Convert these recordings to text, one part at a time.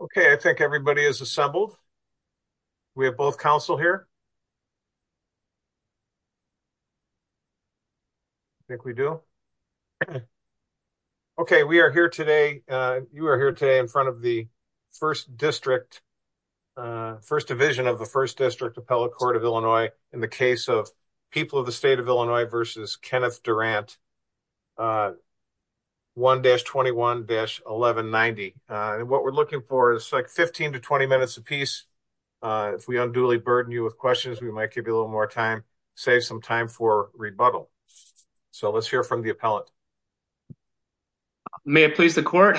Okay, I think everybody is assembled. We have both counsel here. I think we do. Okay, we are here today. You are here today in front of the first district, first division of the first district appellate court of Illinois in the case of people of the state of Illinois versus Kenneth Durant. 1-21-1190. And what we're looking for is like 15 to 20 minutes apiece. If we unduly burden you with questions, we might give you a little more time, save some time for rebuttal. So let's hear from the appellate. May it please the court.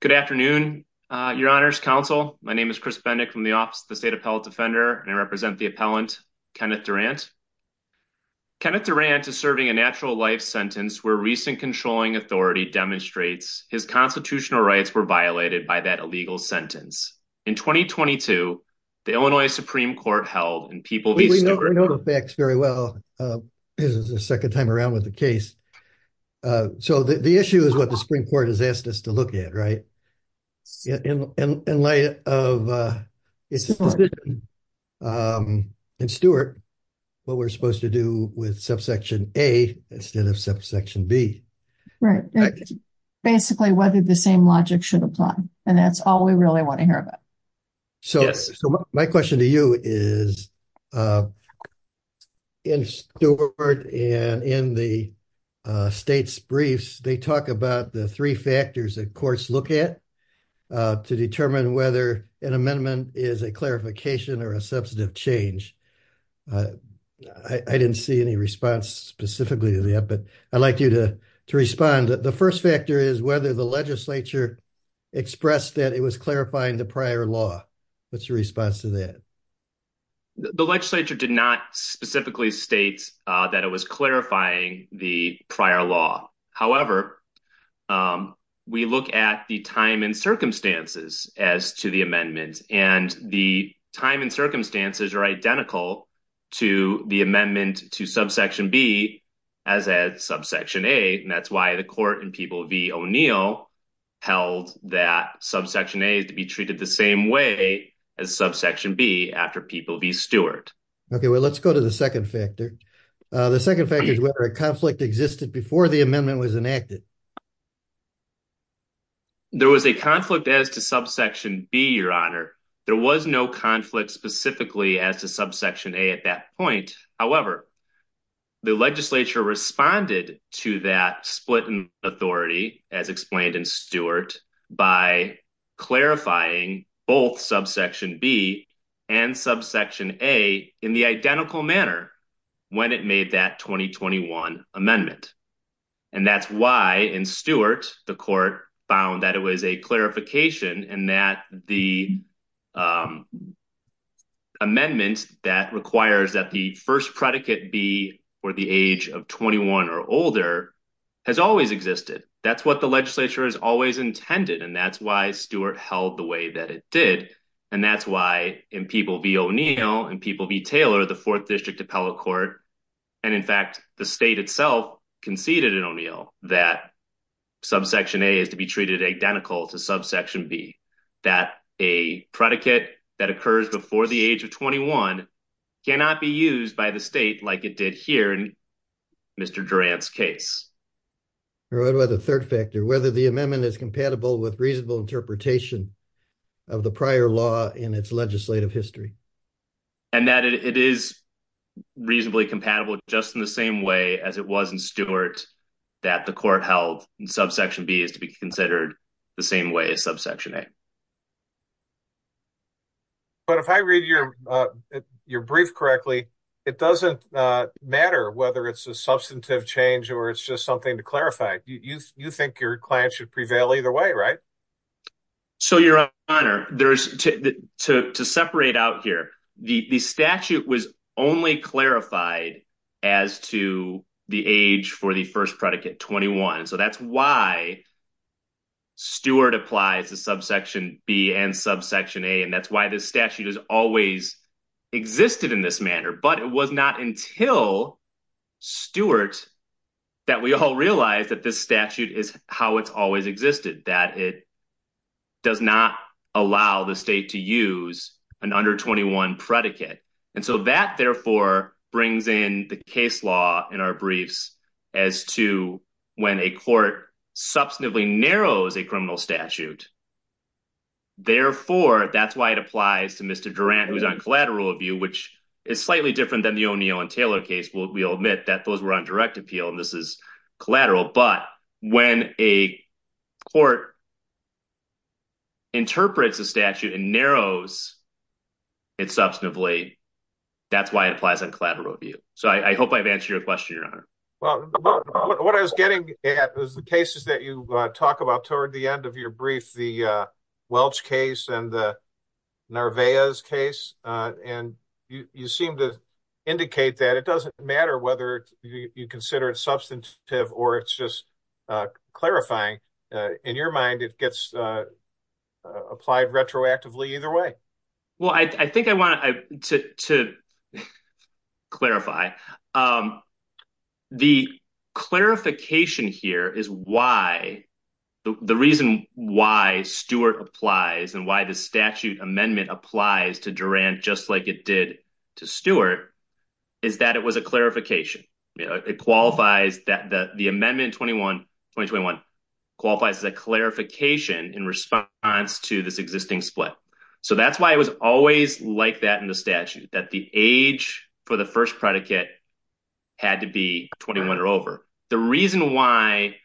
Good afternoon, your honors counsel. My name is Chris Bendick from the office of the state appellate defender and I represent the appellant, Kenneth Durant. Kenneth Durant is serving a natural life sentence where recent controlling authority demonstrates his constitutional rights were violated by that illegal sentence. In 2022, the Illinois Supreme Court held in people. We know the facts very well. This is the second time around with the case. So the issue is what the Supreme Court has asked us to look at, right? In light of Stuart, what we're supposed to do with subsection A instead of subsection B. Right. Basically, whether the same logic should apply. And that's all we really want to hear about. So my question to you is in Stuart and in the state's briefs, they talk about the 3 factors that courts look at to determine whether an amendment is a clarification or a substantive change. I didn't see any response specifically to that, but I'd like you to respond. The 1st factor is whether the legislature expressed that it was clarifying the prior law. What's your response to that? The legislature did not specifically state that it was clarifying the prior law. However, we look at the time and circumstances as to the amendments and the time and circumstances are identical to the amendment to subsection B as a subsection A. And that's why the court in People v. O'Neill held that subsection A is to be treated the same way as subsection B after People v. Stuart. Okay, well, let's go to the 2nd factor. The 2nd factor is whether a conflict existed before the amendment was enacted. There was a conflict as to subsection B, Your Honor. There was no conflict specifically as to subsection A at that point. However, the legislature responded to that split in authority as explained in Stuart by clarifying both subsection B and subsection A in the identical manner when it made that 2021 amendment. And that's why in Stuart, the court found that it was a clarification and that the amendment that requires that the 1st predicate be for the age of 21 or older has always existed. That's what the legislature has always intended. And that's why Stuart held the way that it did. And that's why in People v. O'Neill and People v. Taylor, the 4th District Appellate Court, and in fact, the state itself conceded in O'Neill that subsection A is to be treated identical to subsection B. That a predicate that occurs before the age of 21 cannot be used by the state like it did here in Mr. Durant's case. Third factor, whether the amendment is compatible with reasonable interpretation of the prior law in its legislative history. And that it is reasonably compatible just in the same way as it was in Stuart that the court held in subsection B is to be considered the same way as subsection A. But if I read your brief correctly, it doesn't matter whether it's a substantive change or it's just something to clarify. You think your client should prevail either way, right? So, Your Honor, to separate out here, the statute was only clarified as to the age for the first predicate, 21. So that's why Stuart applies to subsection B and subsection A, and that's why this statute has always existed in this manner. But it was not until Stuart that we all realized that this statute is how it's always existed, that it does not allow the state to use an under 21 predicate. And so that, therefore, brings in the case law in our briefs as to when a court substantively narrows a criminal statute. Therefore, that's why it applies to Mr. Durant, who's on collateral of you, which is slightly different than the O'Neill and Taylor case. We'll admit that those were on direct appeal, and this is collateral. But when a court interprets a statute and narrows it substantively, that's why it applies on collateral of you. So I hope I've answered your question, Your Honor. Well, what I was getting at was the cases that you talk about toward the end of your brief, the Welch case and the Narvaez case. And you seem to indicate that it doesn't matter whether you consider it substantive or it's just clarifying. In your mind, it gets applied retroactively either way. Well, I think I want to clarify the clarification here is why the reason why Stewart applies and why the statute amendment applies to Durant, just like it did to Stewart, is that it was a clarification. It qualifies that the amendment 2021 qualifies as a clarification in response to this existing split. So that's why it was always like that in the statute, that the age for the first predicate had to be 21 or over. The reason why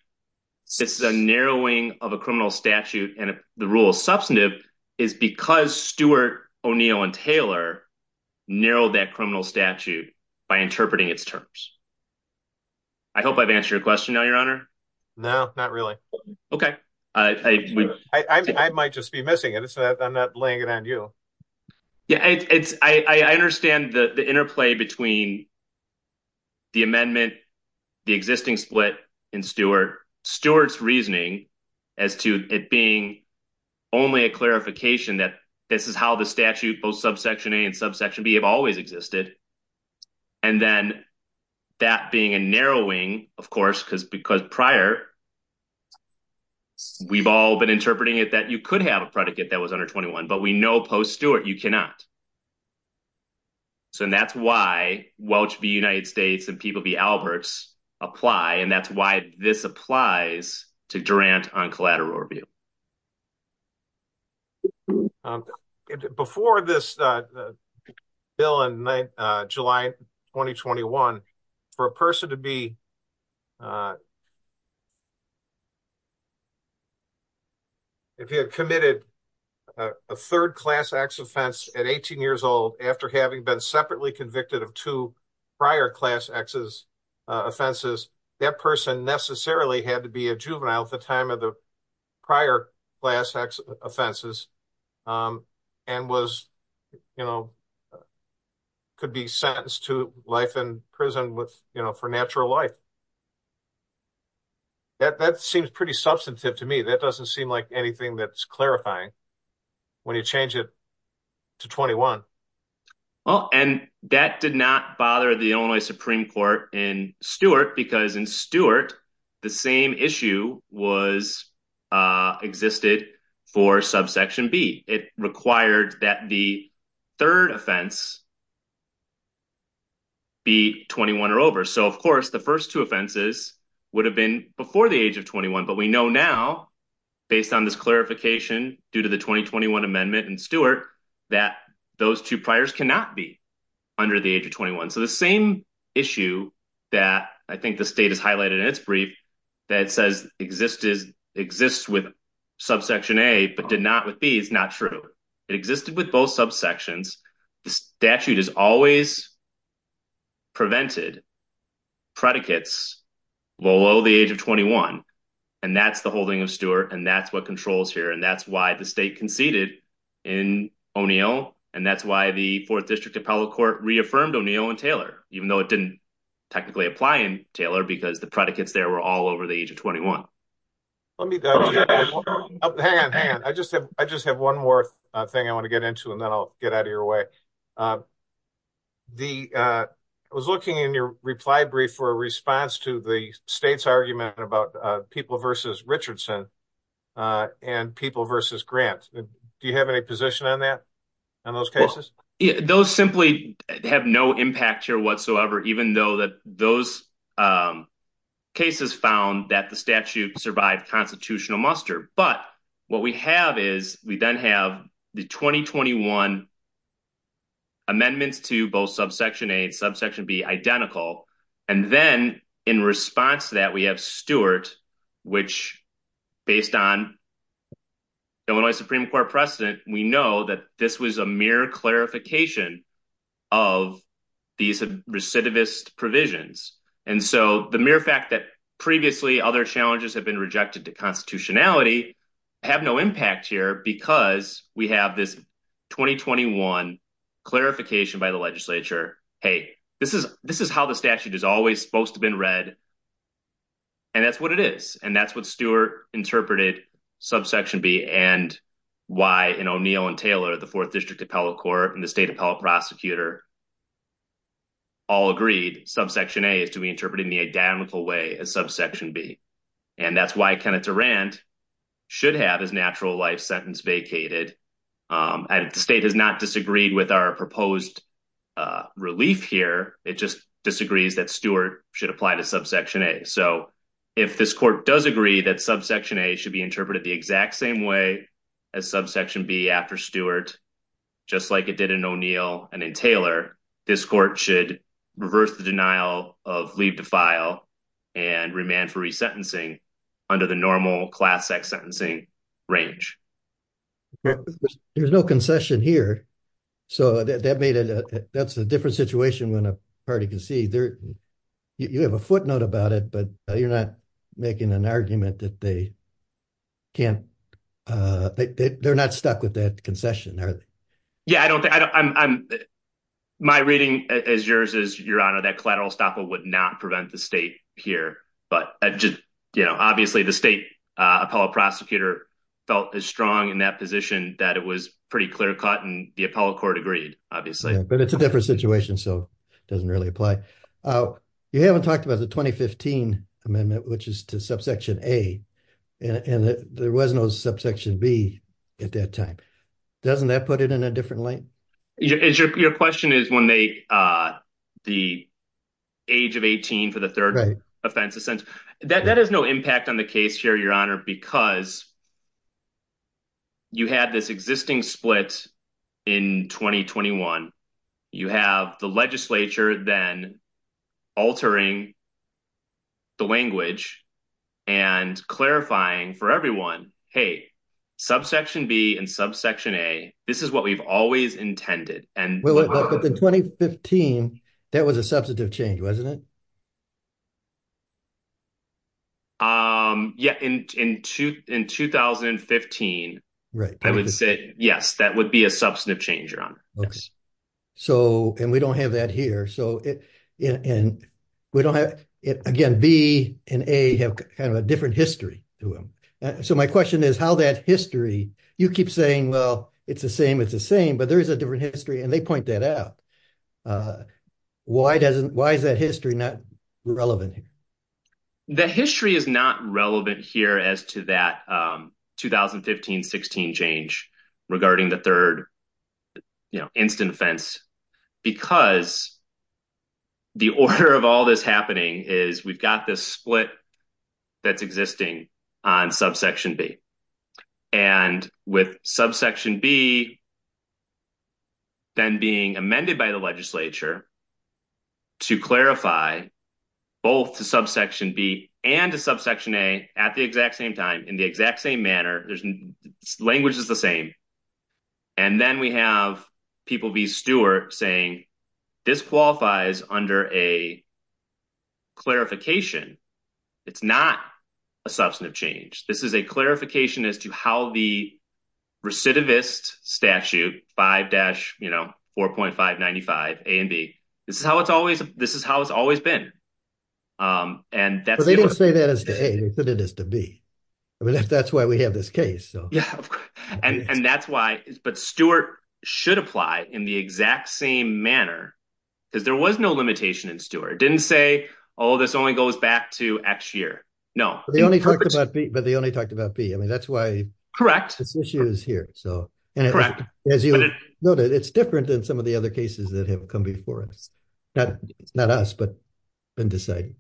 this is a narrowing of a criminal statute and the rule is substantive is because Stewart, O'Neill and Taylor narrowed that criminal statute by interpreting its terms. I hope I've answered your question now, Your Honor. No, not really. Okay. I might just be missing it. I'm not laying it on you. Yeah, I understand the interplay between the amendment, the existing split in Stewart. Stewart's reasoning as to it being only a clarification that this is how the statute, both subsection A and subsection B, have always existed. And then that being a narrowing, of course, because prior, we've all been interpreting it that you could have a predicate that was under 21, but we know post-Stewart, you cannot. So that's why Welch v. United States and Peeble v. Alberts apply, and that's why this applies to Durant on collateral review. Before this bill in July 2021, for a person to be, if you had committed a third-class ex-offense at 18 years old after having been separately convicted of two prior class exes offenses, that person necessarily had to be a juvenile at the time of the prior class ex offenses and could be sentenced to life in prison for natural life. That seems pretty substantive to me. That doesn't seem like anything that's clarifying when you change it to 21. And that did not bother the Illinois Supreme Court in Stewart because in Stewart, the same issue existed for subsection B. It required that the third offense be 21 or over. So, of course, the first two offenses would have been before the age of 21. But we know now, based on this clarification due to the 2021 amendment in Stewart, that those two priors cannot be under the age of 21. So the same issue that I think the state has highlighted in its brief that says exists with subsection A but did not with B is not true. It existed with both subsections. The statute has always prevented predicates below the age of 21. And that's the holding of Stewart, and that's what controls here. And that's why the state conceded in O'Neill, and that's why the Fourth District Appellate Court reaffirmed O'Neill and Taylor, even though it didn't technically apply in Taylor because the predicates there were all over the age of 21. Let me, hang on, hang on. I just have one more thing I want to get into, and then I'll get out of your way. I was looking in your reply brief for a response to the state's argument about people versus Richardson and people versus Grant. Do you have any position on that, on those cases? Those simply have no impact here whatsoever, even though those cases found that the statute survived constitutional muster. But what we have is we then have the 2021 amendments to both subsection A and subsection B identical. And then in response to that, we have Stewart, which based on Illinois Supreme Court precedent, we know that this was a mere clarification of these recidivist provisions. And so the mere fact that previously other challenges have been rejected to constitutionality have no impact here because we have this 2021 clarification by the legislature, hey, this is how the statute is always supposed to have been read. And that's what it is, and that's what Stewart interpreted subsection B and why in O'Neill and Taylor, the Fourth District Appellate Court and the state appellate prosecutor all agreed subsection A is to be interpreted in the identical way as subsection B. And that's why Kenneth Durant should have his natural life sentence vacated. And the state has not disagreed with our proposed relief here. It just disagrees that Stewart should apply to subsection A. So if this court does agree that subsection A should be interpreted the exact same way as subsection B after Stewart, just like it did in O'Neill and in Taylor, this court should reverse the denial of leave to file and remand for resentencing under the normal class X sentencing range. There's no concession here. So that made it that's a different situation when a party can see there. You have a footnote about it, but you're not making an argument that they can't. They're not stuck with that concession, are they? Yeah, I don't think I'm my reading as yours is, Your Honor, that collateral estoppel would not prevent the state here. But just, you know, obviously, the state appellate prosecutor felt as strong in that position that it was pretty clear cut and the appellate court agreed, obviously. But it's a different situation, so it doesn't really apply. You haven't talked about the 2015 amendment, which is to subsection A, and there was no subsection B at that time. Doesn't that put it in a different lane? Your question is when they the age of 18 for the third offense, a sense that that has no impact on the case here, Your Honor, because. You had this existing split in 2021. You have the legislature, then. Altering the language. And clarifying for everyone, hey. Subsection B and subsection a, this is what we've always intended. And in 2015, that was a substantive change, wasn't it? Yeah, in 2015. Right. I would say, yes, that would be a substantive change, Your Honor. So, and we don't have that here. So, and we don't have it again. B and a have kind of a different history to him. So, my question is how that history you keep saying, well, it's the same. It's the same, but there is a different history and they point that out. Why is that history not relevant? The history is not relevant here as to that 2015-16 change regarding the third instant offense. Because the order of all this happening is we've got this split that's existing on subsection B. And with subsection B. Then being amended by the legislature. To clarify both the subsection B and the subsection a at the exact same time in the exact same manner. There's language is the same. And then we have people be Stewart saying. This qualifies under a clarification. It's not a substantive change. This is a clarification as to how the. Recidivist statute 5-4.595 A and B. This is how it's always. This is how it's always been. And that's what they didn't say that is to be. I mean, if that's why we have this case. And that's why, but Stewart should apply in the exact same manner. Because there was no limitation in Stewart didn't say, oh, this only goes back to X year. No, they only talked about B, but they only talked about B. I mean, that's why this issue is here. So, as you noted, it's different than some of the other cases that have come before us. Not us, but been decided.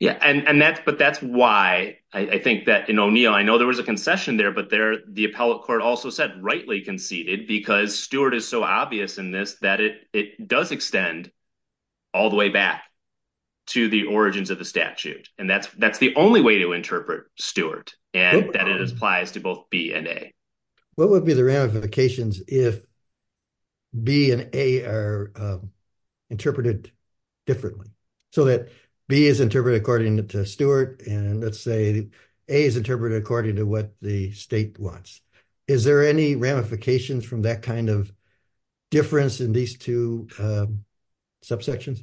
Yeah, and that's but that's why I think that in O'Neill, I know there was a concession there, but there the appellate court also said rightly conceded because Stewart is so obvious in this that it does extend. All the way back to the origins of the statute and that's that's the only way to interpret Stewart and that it applies to both B and A. What would be the ramifications if B and A are interpreted differently so that B is interpreted according to Stewart and let's say A is interpreted according to what the state wants. Is there any ramifications from that kind of difference in these two subsections?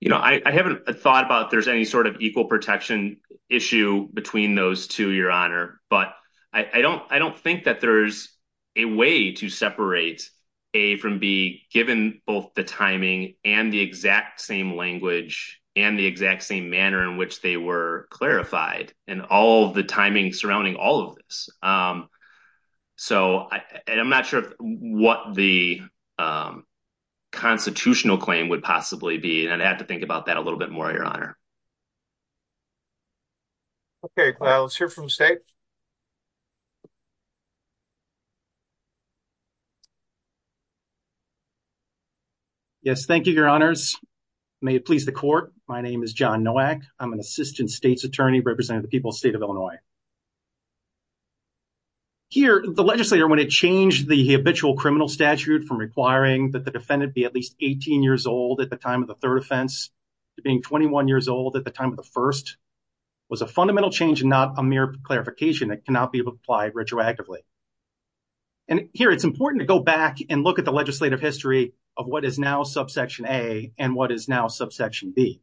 You know, I haven't thought about there's any sort of equal protection issue between those two, your honor. But I don't I don't think that there's a way to separate A from B, given both the timing and the exact same language and the exact same manner in which they were clarified and all the timing surrounding all of this. So, and I'm not sure what the constitutional claim would possibly be and I'd have to think about that a little bit more, your honor. Okay, let's hear from State. Yes, thank you, your honors. May it please the court. My name is John Nowak. I'm an assistant state's attorney representing the people of the state of Illinois. Here, the legislator, when it changed the habitual criminal statute from requiring that the defendant be at least 18 years old at the time of the third offense to being 21 years old at the time of the first was a fundamental change and not a mere clarification that cannot be applied retroactively. And here it's important to go back and look at the legislative history of what is now subsection A and what is now subsection B.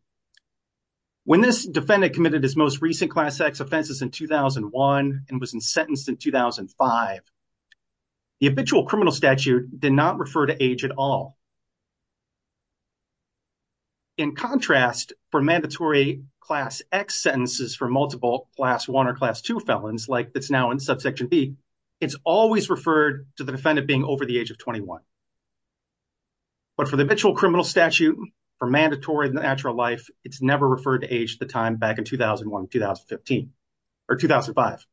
When this defendant committed his most recent Class X offenses in 2001 and was sentenced in 2005, the habitual criminal statute did not refer to age at all. In contrast, for mandatory Class X sentences for multiple Class I or Class II felons, like that's now in subsection B, it's always referred to the defendant being over the age of 21. But for the habitual criminal statute, for mandatory natural life, it's never referred to age at the time back in 2001, 2015, or 2005.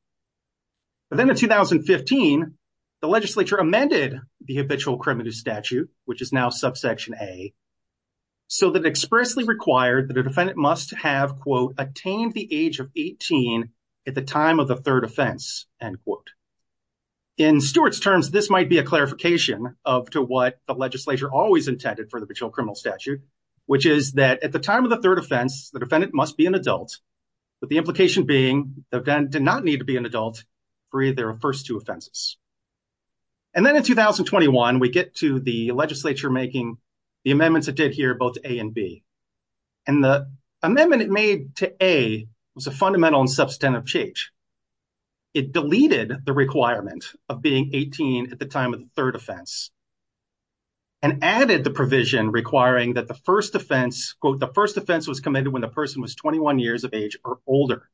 But then in 2015, the legislature amended the habitual criminal statute, which is now subsection A, so that it expressly required that a defendant must have, quote, attained the age of 18 at the time of the third offense, end quote. In Stewart's terms, this might be a clarification of to what the legislature always intended for the habitual criminal statute, which is that at the time of the third offense, the defendant must be an adult, with the implication being the defendant did not need to be an adult for either of the first two offenses. And then in 2021, we get to the legislature making the amendments it did here, both A and B. And the amendment it made to A was a fundamental and substantive change. It deleted the requirement of being 18 at the time of the third offense and added the provision requiring that the first offense, quote, the first offense was committed when the person was 21 years of age or older,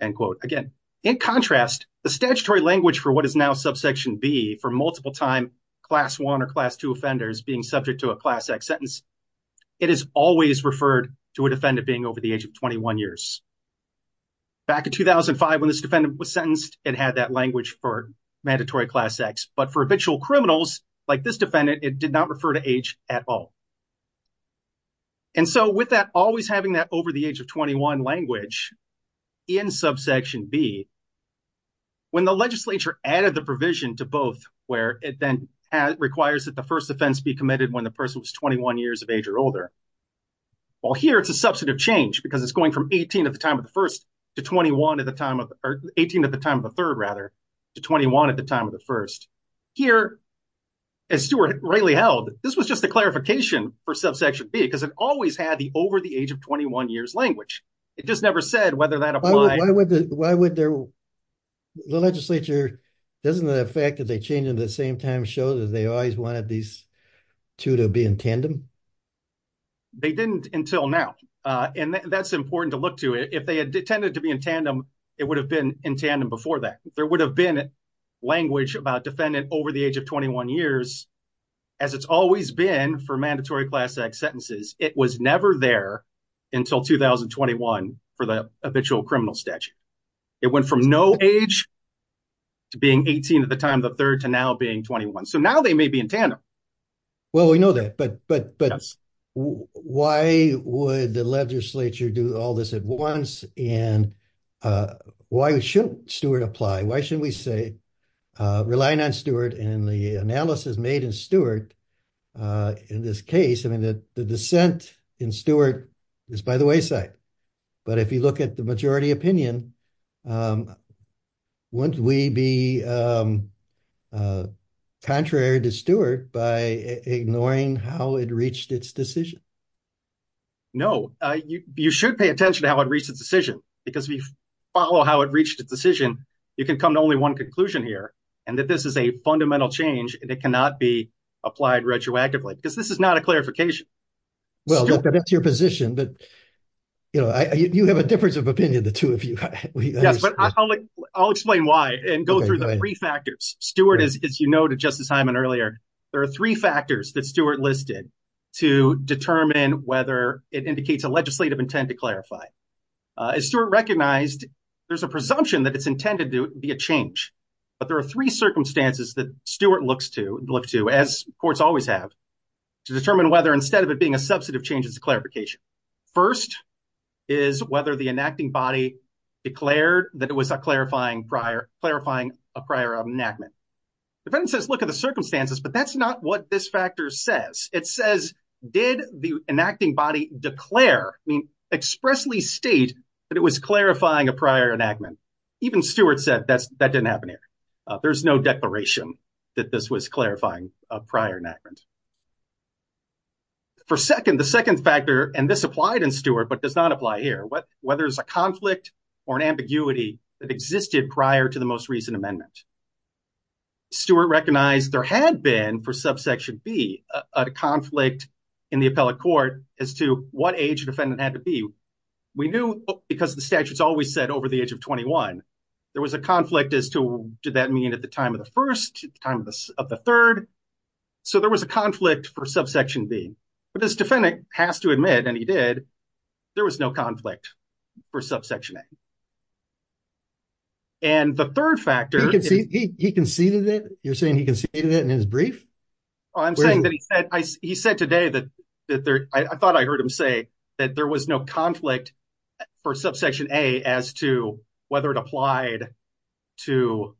end quote. Again, in contrast, the statutory language for what is now subsection B for multiple time Class I or Class II offenders being subject to a Class X sentence, it is always referred to a defendant being over the age of 21 years. Back in 2005, when this defendant was sentenced, it had that language for mandatory Class X, but for habitual criminals like this defendant, it did not refer to age at all. And so with that, always having that over the age of 21 language in subsection B, when the legislature added the provision to both where it then requires that the first offense be committed when the person was 21 years of age or older. Well, here it's a substantive change because it's going from 18 at the time of the first to 21 at the time of 18 at the time of the third, rather, to 21 at the time of the first. Here, as Stuart rightly held, this was just a clarification for subsection B because it always had the over the age of 21 years language. It just never said whether that applies. The legislature, doesn't the fact that they changed it at the same time show that they always wanted these two to be in tandem? They didn't until now. And that's important to look to. If they had intended to be in tandem, it would have been in tandem before that. There would have been language about defendant over the age of 21 years, as it's always been for mandatory Class X sentences. It was never there until 2021 for the habitual criminal statute. It went from no age to being 18 at the time of the third to now being 21. So now they may be in tandem. Well, we know that, but why would the legislature do all this at once? And why shouldn't Stuart apply? Why shouldn't we say, relying on Stuart and the analysis made in Stuart in this case, I mean, the dissent in Stuart is by the wayside. But if you look at the majority opinion, wouldn't we be contrary to Stuart by ignoring how it reached its decision? No, you should pay attention to how it reached its decision, because if you follow how it reached its decision, you can come to only one conclusion here, and that this is a fundamental change and it cannot be applied retroactively, because this is not a clarification. Well, that's your position, but you have a difference of opinion, the two of you. Yes, but I'll explain why and go through the three factors. Stuart, as you noted Justice Hyman earlier, there are three factors that Stuart listed to determine whether it indicates a legislative intent to clarify. As Stuart recognized, there's a presumption that it's intended to be a change, but there are three circumstances that Stuart looks to, as courts always have, to determine whether instead of it being a substantive change, it's a clarification. First is whether the enacting body declared that it was clarifying a prior enactment. The defendant says, look at the circumstances, but that's not what this factor says. It says, did the enacting body declare, I mean, expressly state that it was clarifying a prior enactment. Even Stuart said that didn't happen here. There's no declaration that this was clarifying a prior enactment. For second, the second factor, and this applied in Stuart, but does not apply here, whether it's a conflict or an ambiguity that existed prior to the most recent amendment. Stuart recognized there had been, for subsection B, a conflict in the appellate court as to what age the defendant had to be. We knew, because the statutes always said over the age of 21, there was a conflict as to did that mean at the time of the first, time of the third, so there was a conflict for subsection B. But this defendant has to admit, and he did, there was no conflict for subsection A. And the third factor. He conceded it? You're saying he conceded it in his brief? I'm saying that he said, he said today that I thought I heard him say that there was no conflict for subsection A as to whether it applied to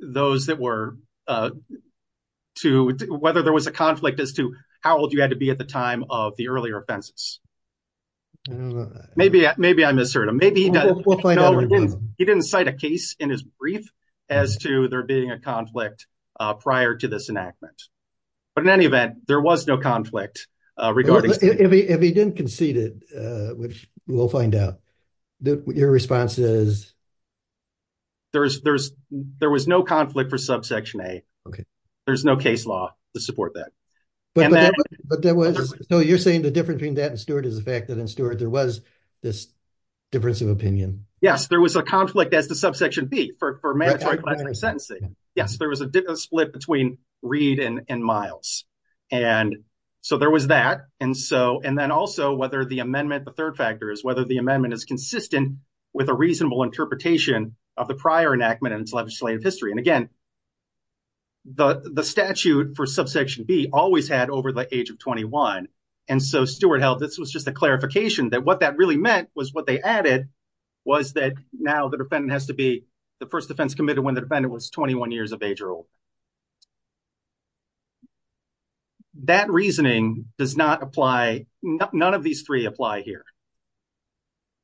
those that were, to whether there was a conflict as to how old you had to be at the time of the earlier offenses. Maybe, maybe I misheard him. Maybe he didn't, he didn't cite a case in his brief as to there being a conflict prior to this enactment. But in any event, there was no conflict. If he didn't concede it, which we'll find out, your response is? There's, there's, there was no conflict for subsection A. Okay. There's no case law to support that. But there was, so you're saying the difference between that and Stewart is the fact that in Stewart there was this difference of opinion. Yes, there was a conflict as to subsection B for mandatory class of sentencing. Yes, there was a split between Reed and Miles. And so there was that. And so, and then also whether the amendment, the third factor is whether the amendment is consistent with a reasonable interpretation of the prior enactment and its legislative history. And again, the statute for subsection B always had over the age of 21. And so Stewart held, this was just a clarification that what that really meant was what they added was that now the defendant has to be the first offense committed when the defendant was 21 years of age or older. That reasoning does not apply. None of these three apply here.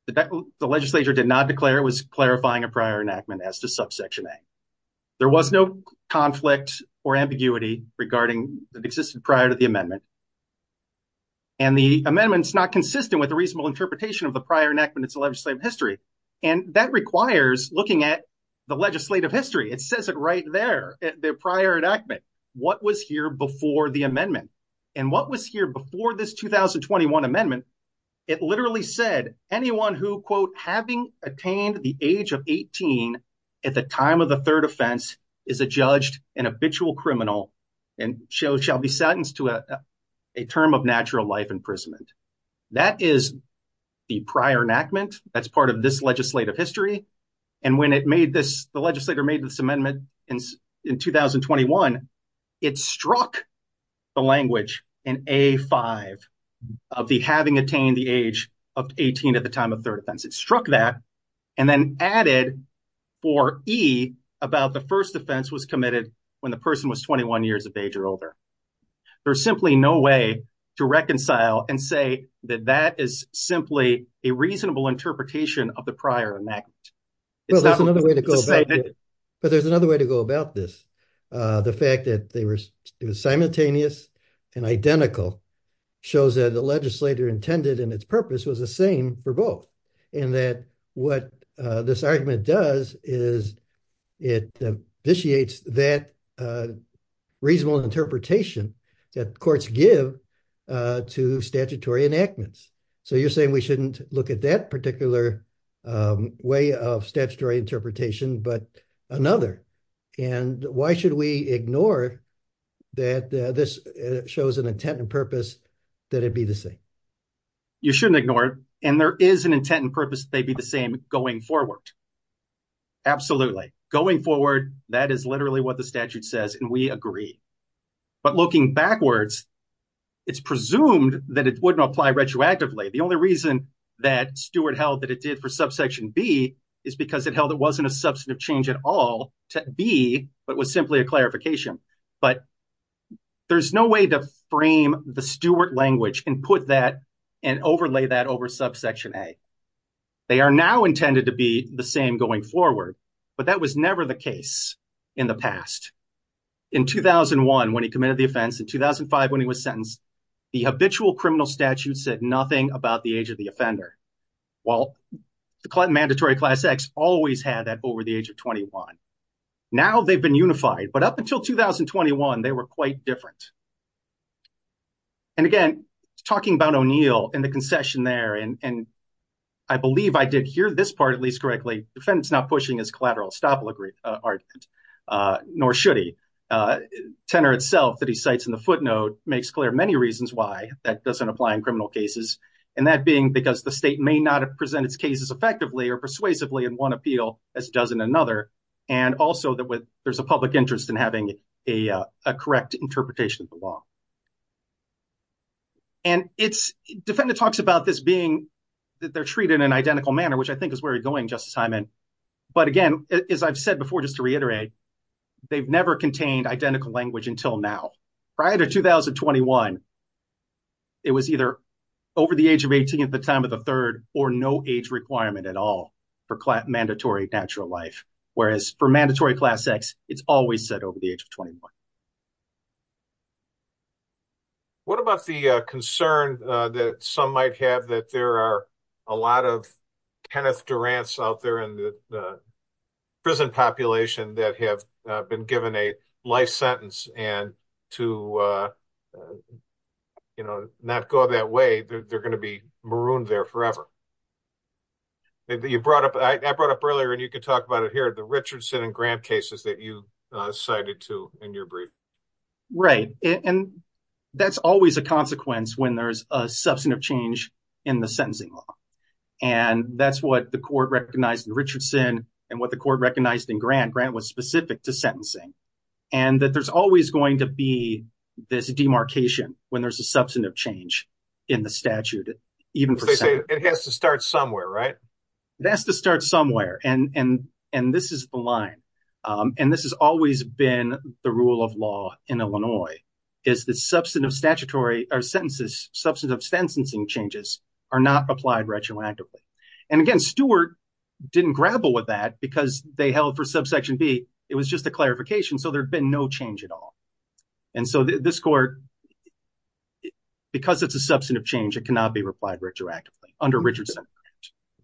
The legislature did not declare it was clarifying a prior enactment as to subsection A. There was no conflict or ambiguity regarding that existed prior to the amendment. And the amendment is not consistent with a reasonable interpretation of the prior enactment and its legislative history. And that requires looking at the legislative history. It says it right there, the prior enactment. What was here before the amendment? And what was here before this 2021 amendment? It literally said anyone who quote, having attained the age of 18 at the time of the third offense is a judged and habitual criminal and shall be sentenced to a term of natural life imprisonment. That is the prior enactment. That's part of this legislative history. And when it made this, the legislator made this amendment in 2021, it struck the language in A5 of the having attained the age of 18 at the time of third offense. It struck that and then added for E about the first offense was committed when the person was 21 years of age or older. There's simply no way to reconcile and say that that is simply a reasonable interpretation of the prior enactment. But there's another way to go about this. The fact that they were simultaneous and identical shows that the legislator intended and its purpose was the same for both. And that what this argument does is it initiates that reasonable interpretation that courts give to statutory enactments. So you're saying we shouldn't look at that particular way of statutory interpretation, but another. And why should we ignore that this shows an intent and purpose that it be the same? You shouldn't ignore it. And there is an intent and purpose. They'd be the same going forward. Absolutely. Going forward, that is literally what the statute says. And we agree. But looking backwards, it's presumed that it wouldn't apply retroactively. The only reason that Stewart held that it did for subsection B is because it held it wasn't a substantive change at all to B, but was simply a clarification. But there's no way to frame the Stewart language and put that and overlay that over subsection A. They are now intended to be the same going forward. But that was never the case in the past. In 2001, when he committed the offense, in 2005 when he was sentenced, the habitual criminal statute said nothing about the age of the offender. Well, the mandatory class X always had that over the age of 21. Now they've been unified. But up until 2021, they were quite different. And again, talking about O'Neill and the concession there, and I believe I did hear this part at least correctly. Defendant's not pushing his collateral estoppel argument, nor should he. Tenor itself that he cites in the footnote makes clear many reasons why that doesn't apply in criminal cases. And that being because the state may not present its cases effectively or persuasively in one appeal as it does in another. And also that there's a public interest in having a correct interpretation of the law. And defendant talks about this being that they're treated in an identical manner, which I think is where you're going, Justice Hyman. But again, as I've said before, just to reiterate, they've never contained identical language until now. Prior to 2021, it was either over the age of 18 at the time of the third or no age requirement at all for mandatory natural life. Whereas for mandatory class X, it's always said over the age of 21. What about the concern that some might have that there are a lot of Kenneth Durants out there in the prison population that have been given a life sentence and to, you know, not go that way, they're going to be marooned there forever. You brought up, I brought up earlier, and you could talk about it here, the Richardson and Grant cases that you cited to in your brief. Right. And that's always a consequence when there's a substantive change in the sentencing law. And that's what the court recognized in Richardson and what the court recognized in Grant. Grant was specific to sentencing. And that there's always going to be this demarcation when there's a substantive change in the statute. It has to start somewhere, right? It has to start somewhere. And this is the line. And this has always been the rule of law in Illinois is that substantive statutory or sentences substantive sentencing changes are not applied retroactively. And again, Stewart didn't grapple with that because they held for subsection B. It was just a clarification. So there's been no change at all. And so this court, because it's a substantive change, it cannot be replied retroactively under Richardson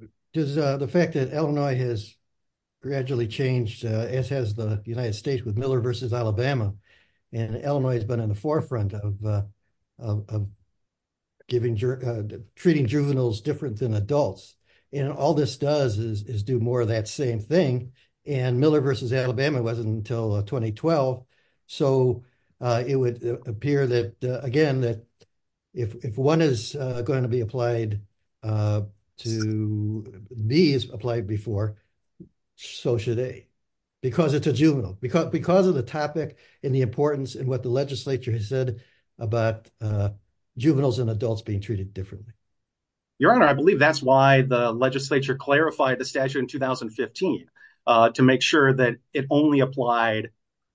and Grant. Does the fact that Illinois has gradually changed, as has the United States with Miller v. Alabama, and Illinois has been in the forefront of treating juveniles different than adults. And all this does is do more of that same thing. And Miller v. Alabama wasn't until 2012. So it would appear that, again, that if one is going to be applied to B as applied before, so should A. Because it's a juvenile. Because of the topic and the importance and what the legislature has said about juveniles and adults being treated differently. Your Honor, I believe that's why the legislature clarified the statute in 2015 to make sure that it only applied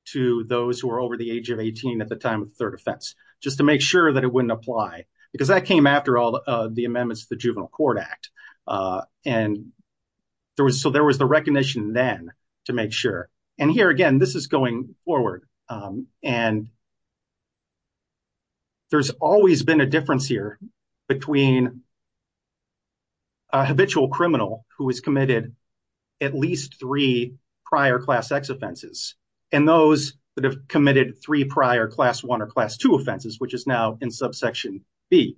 to those who are over the age of 18 at the time of the third offense. Just to make sure that it wouldn't apply because that came after all the amendments to the Juvenile Court Act. And there was so there was the recognition then to make sure. And here again, this is going forward. And there's always been a difference here between a habitual criminal who has committed at least three prior class X offenses and those that have committed three prior class one or class two offenses, which is now in subsection B.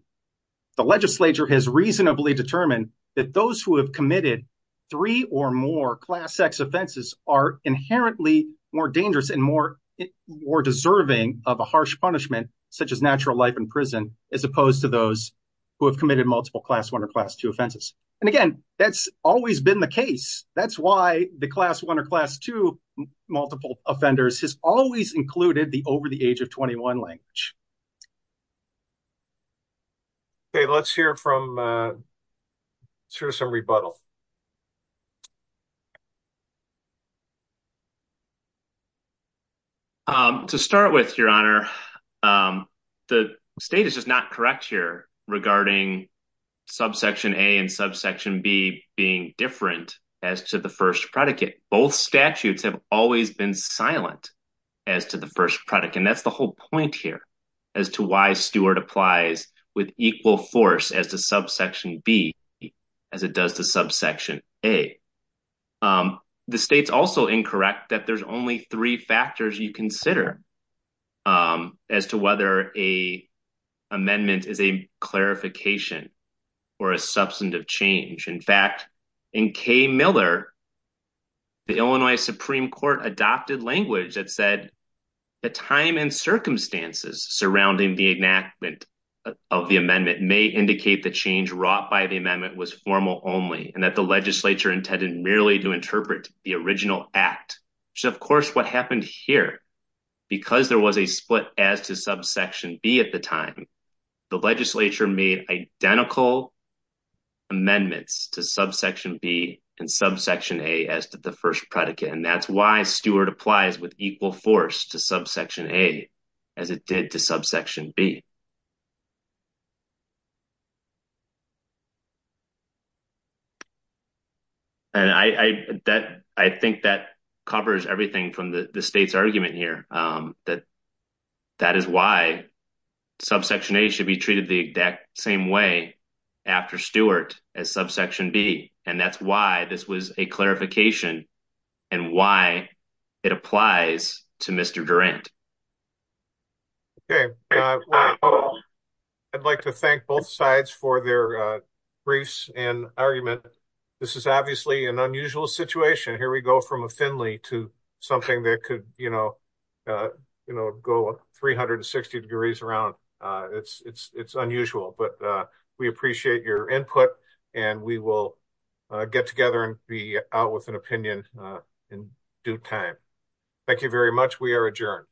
The legislature has reasonably determined that those who have committed three or more class X offenses are inherently more dangerous and more deserving of a harsh punishment, such as natural life in prison, as opposed to those who have committed multiple class one or class two offenses. And again, that's always been the case. That's why the class one or class two multiple offenders has always included the over the age of 21 language. Okay, let's hear some rebuttal. To start with, Your Honor, the state is just not correct here regarding subsection A and subsection B being different as to the first predicate. Both statutes have always been silent as to the first predicate. And that's the whole point here as to why Stewart applies with equal force as to subsection B as it does to subsection A. The state's also incorrect that there's only three factors you consider as to whether a amendment is a clarification or a substantive change. In fact, in K. Miller, the Illinois Supreme Court adopted language that said the time and circumstances surrounding the enactment of the amendment may indicate the change wrought by the amendment was formal only. And that the legislature intended merely to interpret the original act. So, of course, what happened here, because there was a split as to subsection B at the time, the legislature made identical amendments to subsection B and subsection A as to the first predicate. And that's why Stewart applies with equal force to subsection A as it did to subsection B. And I think that covers everything from the state's argument here that that is why subsection A should be treated the exact same way after Stewart as subsection B. And that's why this was a clarification and why it applies to Mr. Durant. Okay, I'd like to thank both sides for their briefs and argument. This is obviously an unusual situation. Here we go from a Finley to something that could, you know, go 360 degrees around. It's unusual, but we appreciate your input and we will get together and be out with an opinion in due time. Thank you very much. We are adjourned.